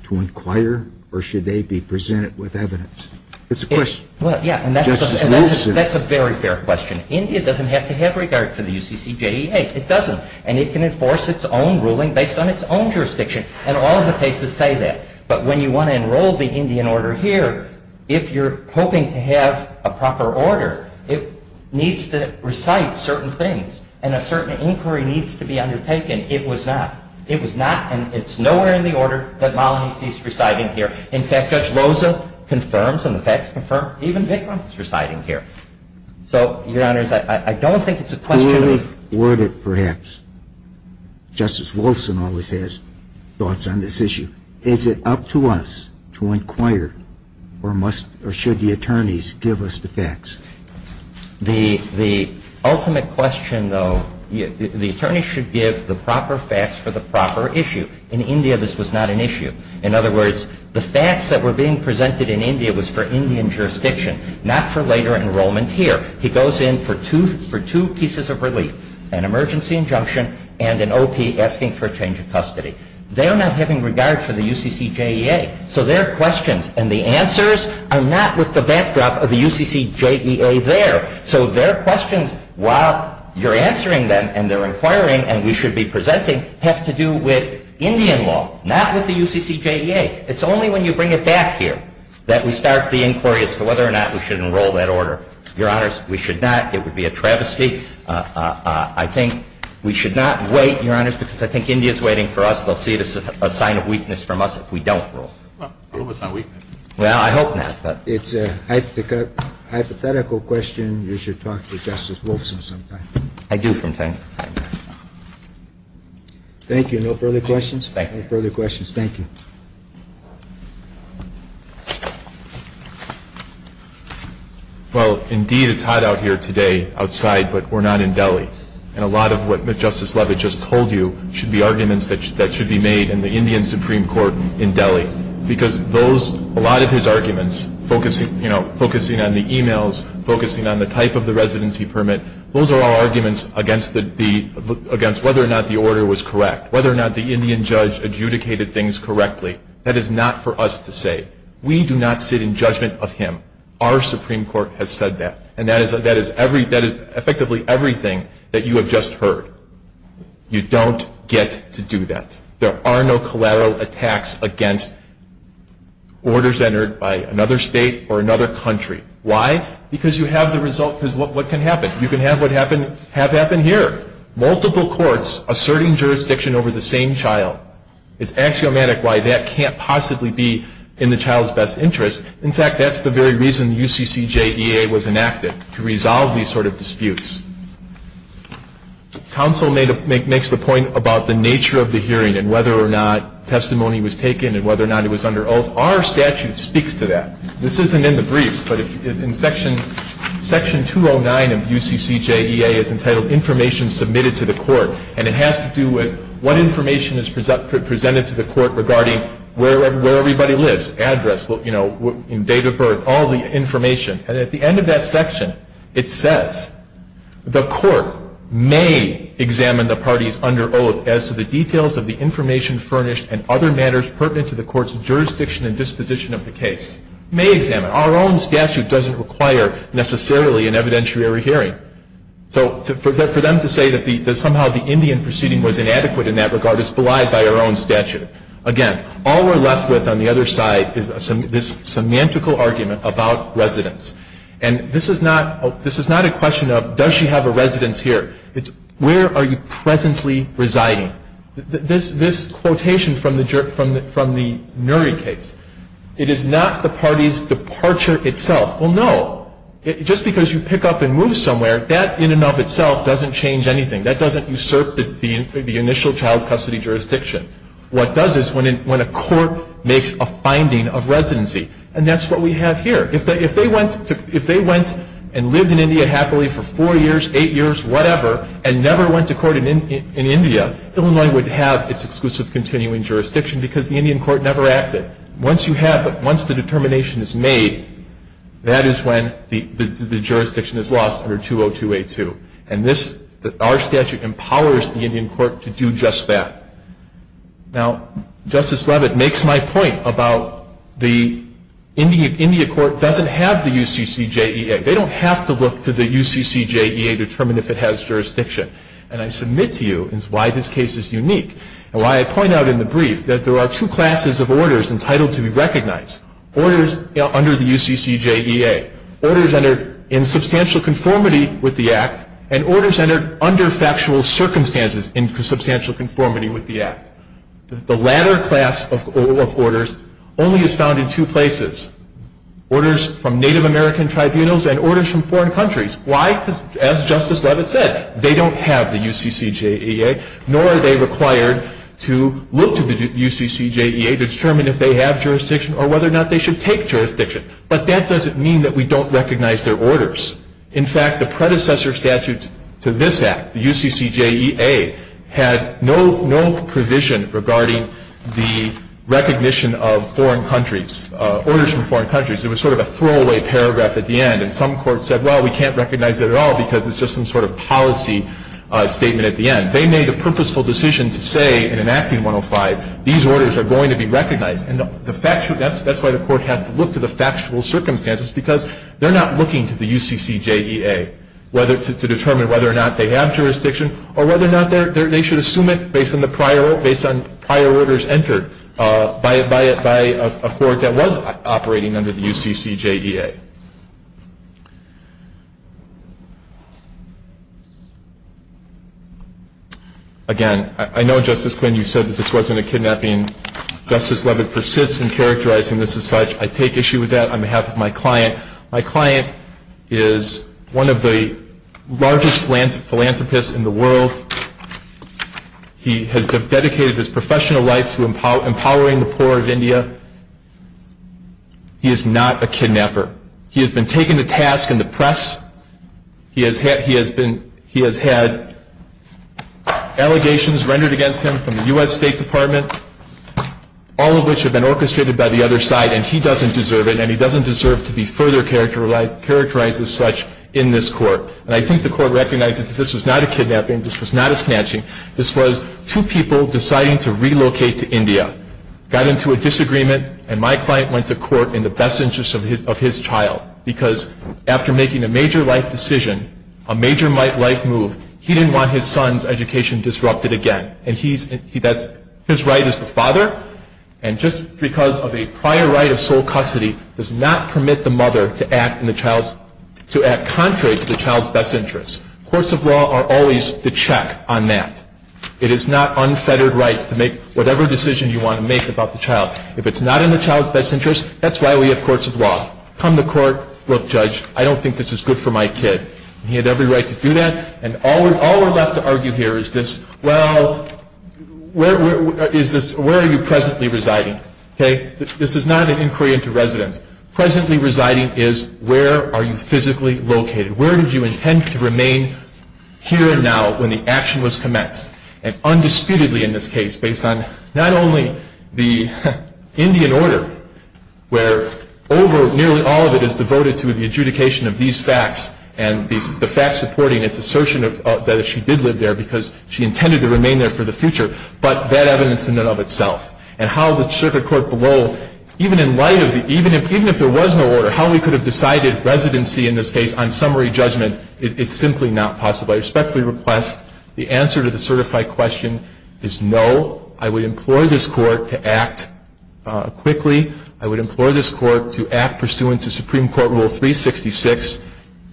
to inquire, or should they be presented with evidence? It's a question. Well, yeah, and that's a very fair question. India doesn't have to have regard for the UCCJEA. It doesn't. And it can enforce its own ruling based on its own jurisdiction. And all of the cases say that. But when you want to enroll the Indian order here, if you're hoping to have a proper order, it needs to recite certain things. And a certain inquiry needs to be undertaken. It was not. It was not. And it's nowhere in the order that Malini sees reciting here. In fact, Judge Loza confirms, and the facts confirm, even Vikram is reciting here. So, Your Honors, I don't think it's a question of the order. Justice Wilson always has thoughts on this issue. The ultimate question, though, the attorney should give the proper facts for the proper issue. In India, this was not an issue. In other words, the facts that were being presented in India was for Indian jurisdiction, not for later enrollment here. He goes in for two pieces of relief, an emergency injunction and an O.P. asking for a change of custody. They are not having regard for the UCCJEA. So their questions and the answers are not with the backdrop of the UCCJEA there. So their questions, while you're answering them and they're inquiring and we should be presenting, have to do with Indian law, not with the UCCJEA. It's only when you bring it back here that we start the inquiries for whether or not we should enroll that order. Your Honors, we should not. It would be a travesty. I think we should not wait, Your Honors, because I think India is waiting for us. They'll see it as a sign of weakness from us if we don't enroll. Well, I hope it's not weakness. Well, I hope not. It's a hypothetical question. You should talk to Justice Wolfson sometime. I do from time to time. Thank you. No further questions? Thank you. No further questions. Thank you. Well, indeed, it's hot out here today outside, but we're not in Delhi. And a lot of what Justice Leavitt just told you should be arguments that should be made in the Indian Supreme Court in Delhi. Because those, a lot of his arguments, focusing on the e-mails, focusing on the type of the residency permit, those are all arguments against whether or not the order was correct, whether or not the Indian judge adjudicated things correctly. That is not for us to say. We do not sit in judgment of him. Our Supreme Court has said that. And that is effectively everything that you have just heard. You don't get to do that. There are no collateral attacks against orders entered by another state or another country. Why? Because you have the result. Because what can happen? You can have what happened here. Multiple courts asserting jurisdiction over the same child. It's axiomatic why that can't possibly be in the child's best interest. In fact, that's the very reason the UCCJEA was enacted, to resolve these sort of disputes. Counsel makes the point about the nature of the hearing and whether or not testimony was taken and whether or not it was under oath. Our statute speaks to that. This isn't in the briefs, but in Section 209 of the UCCJEA is entitled Information Submitted to the Court. And it has to do with what information is presented to the court regarding where everybody lives, address, date of birth, all the information. And at the end of that section, it says, The court may examine the parties under oath as to the details of the information furnished and other matters pertinent to the court's jurisdiction and disposition of the case. May examine. Our own statute doesn't require necessarily an evidentiary hearing. So for them to say that somehow the Indian proceeding was inadequate in that regard is belied by our own statute. Again, all we're left with on the other side is this semantical argument about residence. And this is not a question of does she have a residence here. It's where are you presently residing. This quotation from the Nury case. It is not the party's departure itself. Well, no. Just because you pick up and move somewhere, that in and of itself doesn't change anything. That doesn't usurp the initial child custody jurisdiction. What does is when a court makes a finding of residency. And that's what we have here. If they went and lived in India happily for four years, eight years, whatever, and never went to court in India, Illinois would have its exclusive continuing jurisdiction because the Indian court never acted. Once you have it, once the determination is made, that is when the jurisdiction is lost under 202A2. And our statute empowers the Indian court to do just that. Now, Justice Leavitt makes my point about the Indian court doesn't have the UCCJEA. They don't have to look to the UCCJEA to determine if it has jurisdiction. And I submit to you is why this case is unique. And why I point out in the brief that there are two classes of orders entitled to be recognized. Orders under the UCCJEA. Orders under in substantial conformity with the act. And orders under factual circumstances in substantial conformity with the act. The latter class of orders only is found in two places. Orders from Native American tribunals and orders from foreign countries. Why? Because as Justice Leavitt said, they don't have the UCCJEA. Nor are they required to look to the UCCJEA to determine if they have jurisdiction or whether or not they should take jurisdiction. But that doesn't mean that we don't recognize their orders. In fact, the predecessor statute to this act, the UCCJEA, had no provision regarding the recognition of foreign countries, orders from foreign countries. It was sort of a throwaway paragraph at the end. And some courts said, well, we can't recognize it at all because it's just some sort of policy statement at the end. They made a purposeful decision to say in enacting 105, these orders are going to be recognized. And that's why the court has to look to the factual circumstances because they're not looking to the UCCJEA to determine whether or not they have jurisdiction or whether or not they should assume it based on prior orders entered by a court that was operating under the UCCJEA. Again, I know, Justice Quinn, you said that this wasn't a kidnapping. Justice Leavitt persists in characterizing this as such. I take issue with that. On behalf of my client, my client is one of the largest philanthropists in the world. He has dedicated his professional life to empowering the poor of India. He is not a kidnapper. He has been taken to task in the press. He has had allegations rendered against him from the U.S. State Department, all of which have been orchestrated by the other side. And he doesn't deserve it. And he doesn't deserve to be further characterized as such in this court. And I think the court recognizes that this was not a kidnapping. This was not a snatching. This was two people deciding to relocate to India, got into a disagreement, and my client went to court in the best interest of his child. Because after making a major life decision, a major life move, he didn't want his son's education disrupted again. And his right as the father, and just because of a prior right of sole custody, does not permit the mother to act contrary to the child's best interest. Courts of law are always the check on that. It is not unfettered rights to make whatever decision you want to make about the child. If it's not in the child's best interest, that's why we have courts of law. Come to court, look, judge, I don't think this is good for my kid. He had every right to do that. And all we're left to argue here is this, well, where are you presently residing? Okay? This is not an inquiry into residence. Presently residing is where are you physically located? Where did you intend to remain here and now when the action was commenced? And undisputedly in this case, based on not only the Indian order, where nearly all of it is devoted to the adjudication of these facts and the facts supporting its assertion that she did live there because she intended to remain there for the future, but that evidence in and of itself. And how the circuit court below, even if there was no order, how we could have decided residency in this case on summary judgment, it's simply not possible. I respectfully request the answer to the certified question is no. I would implore this Court to act quickly. I would implore this Court to act pursuant to Supreme Court Rule 366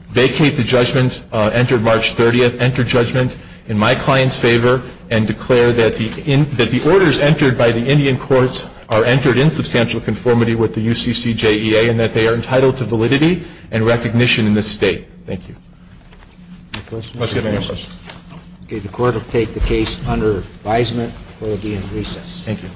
vacate the judgment entered March 30th, enter judgment in my client's favor and declare that the orders entered by the Indian courts are entered in substantial conformity with the UCCJEA and that they are entitled to validity and recognition in this State. Thank you. Any questions? Okay, the Court will take the case under advisement or it will be in recess. Thank you.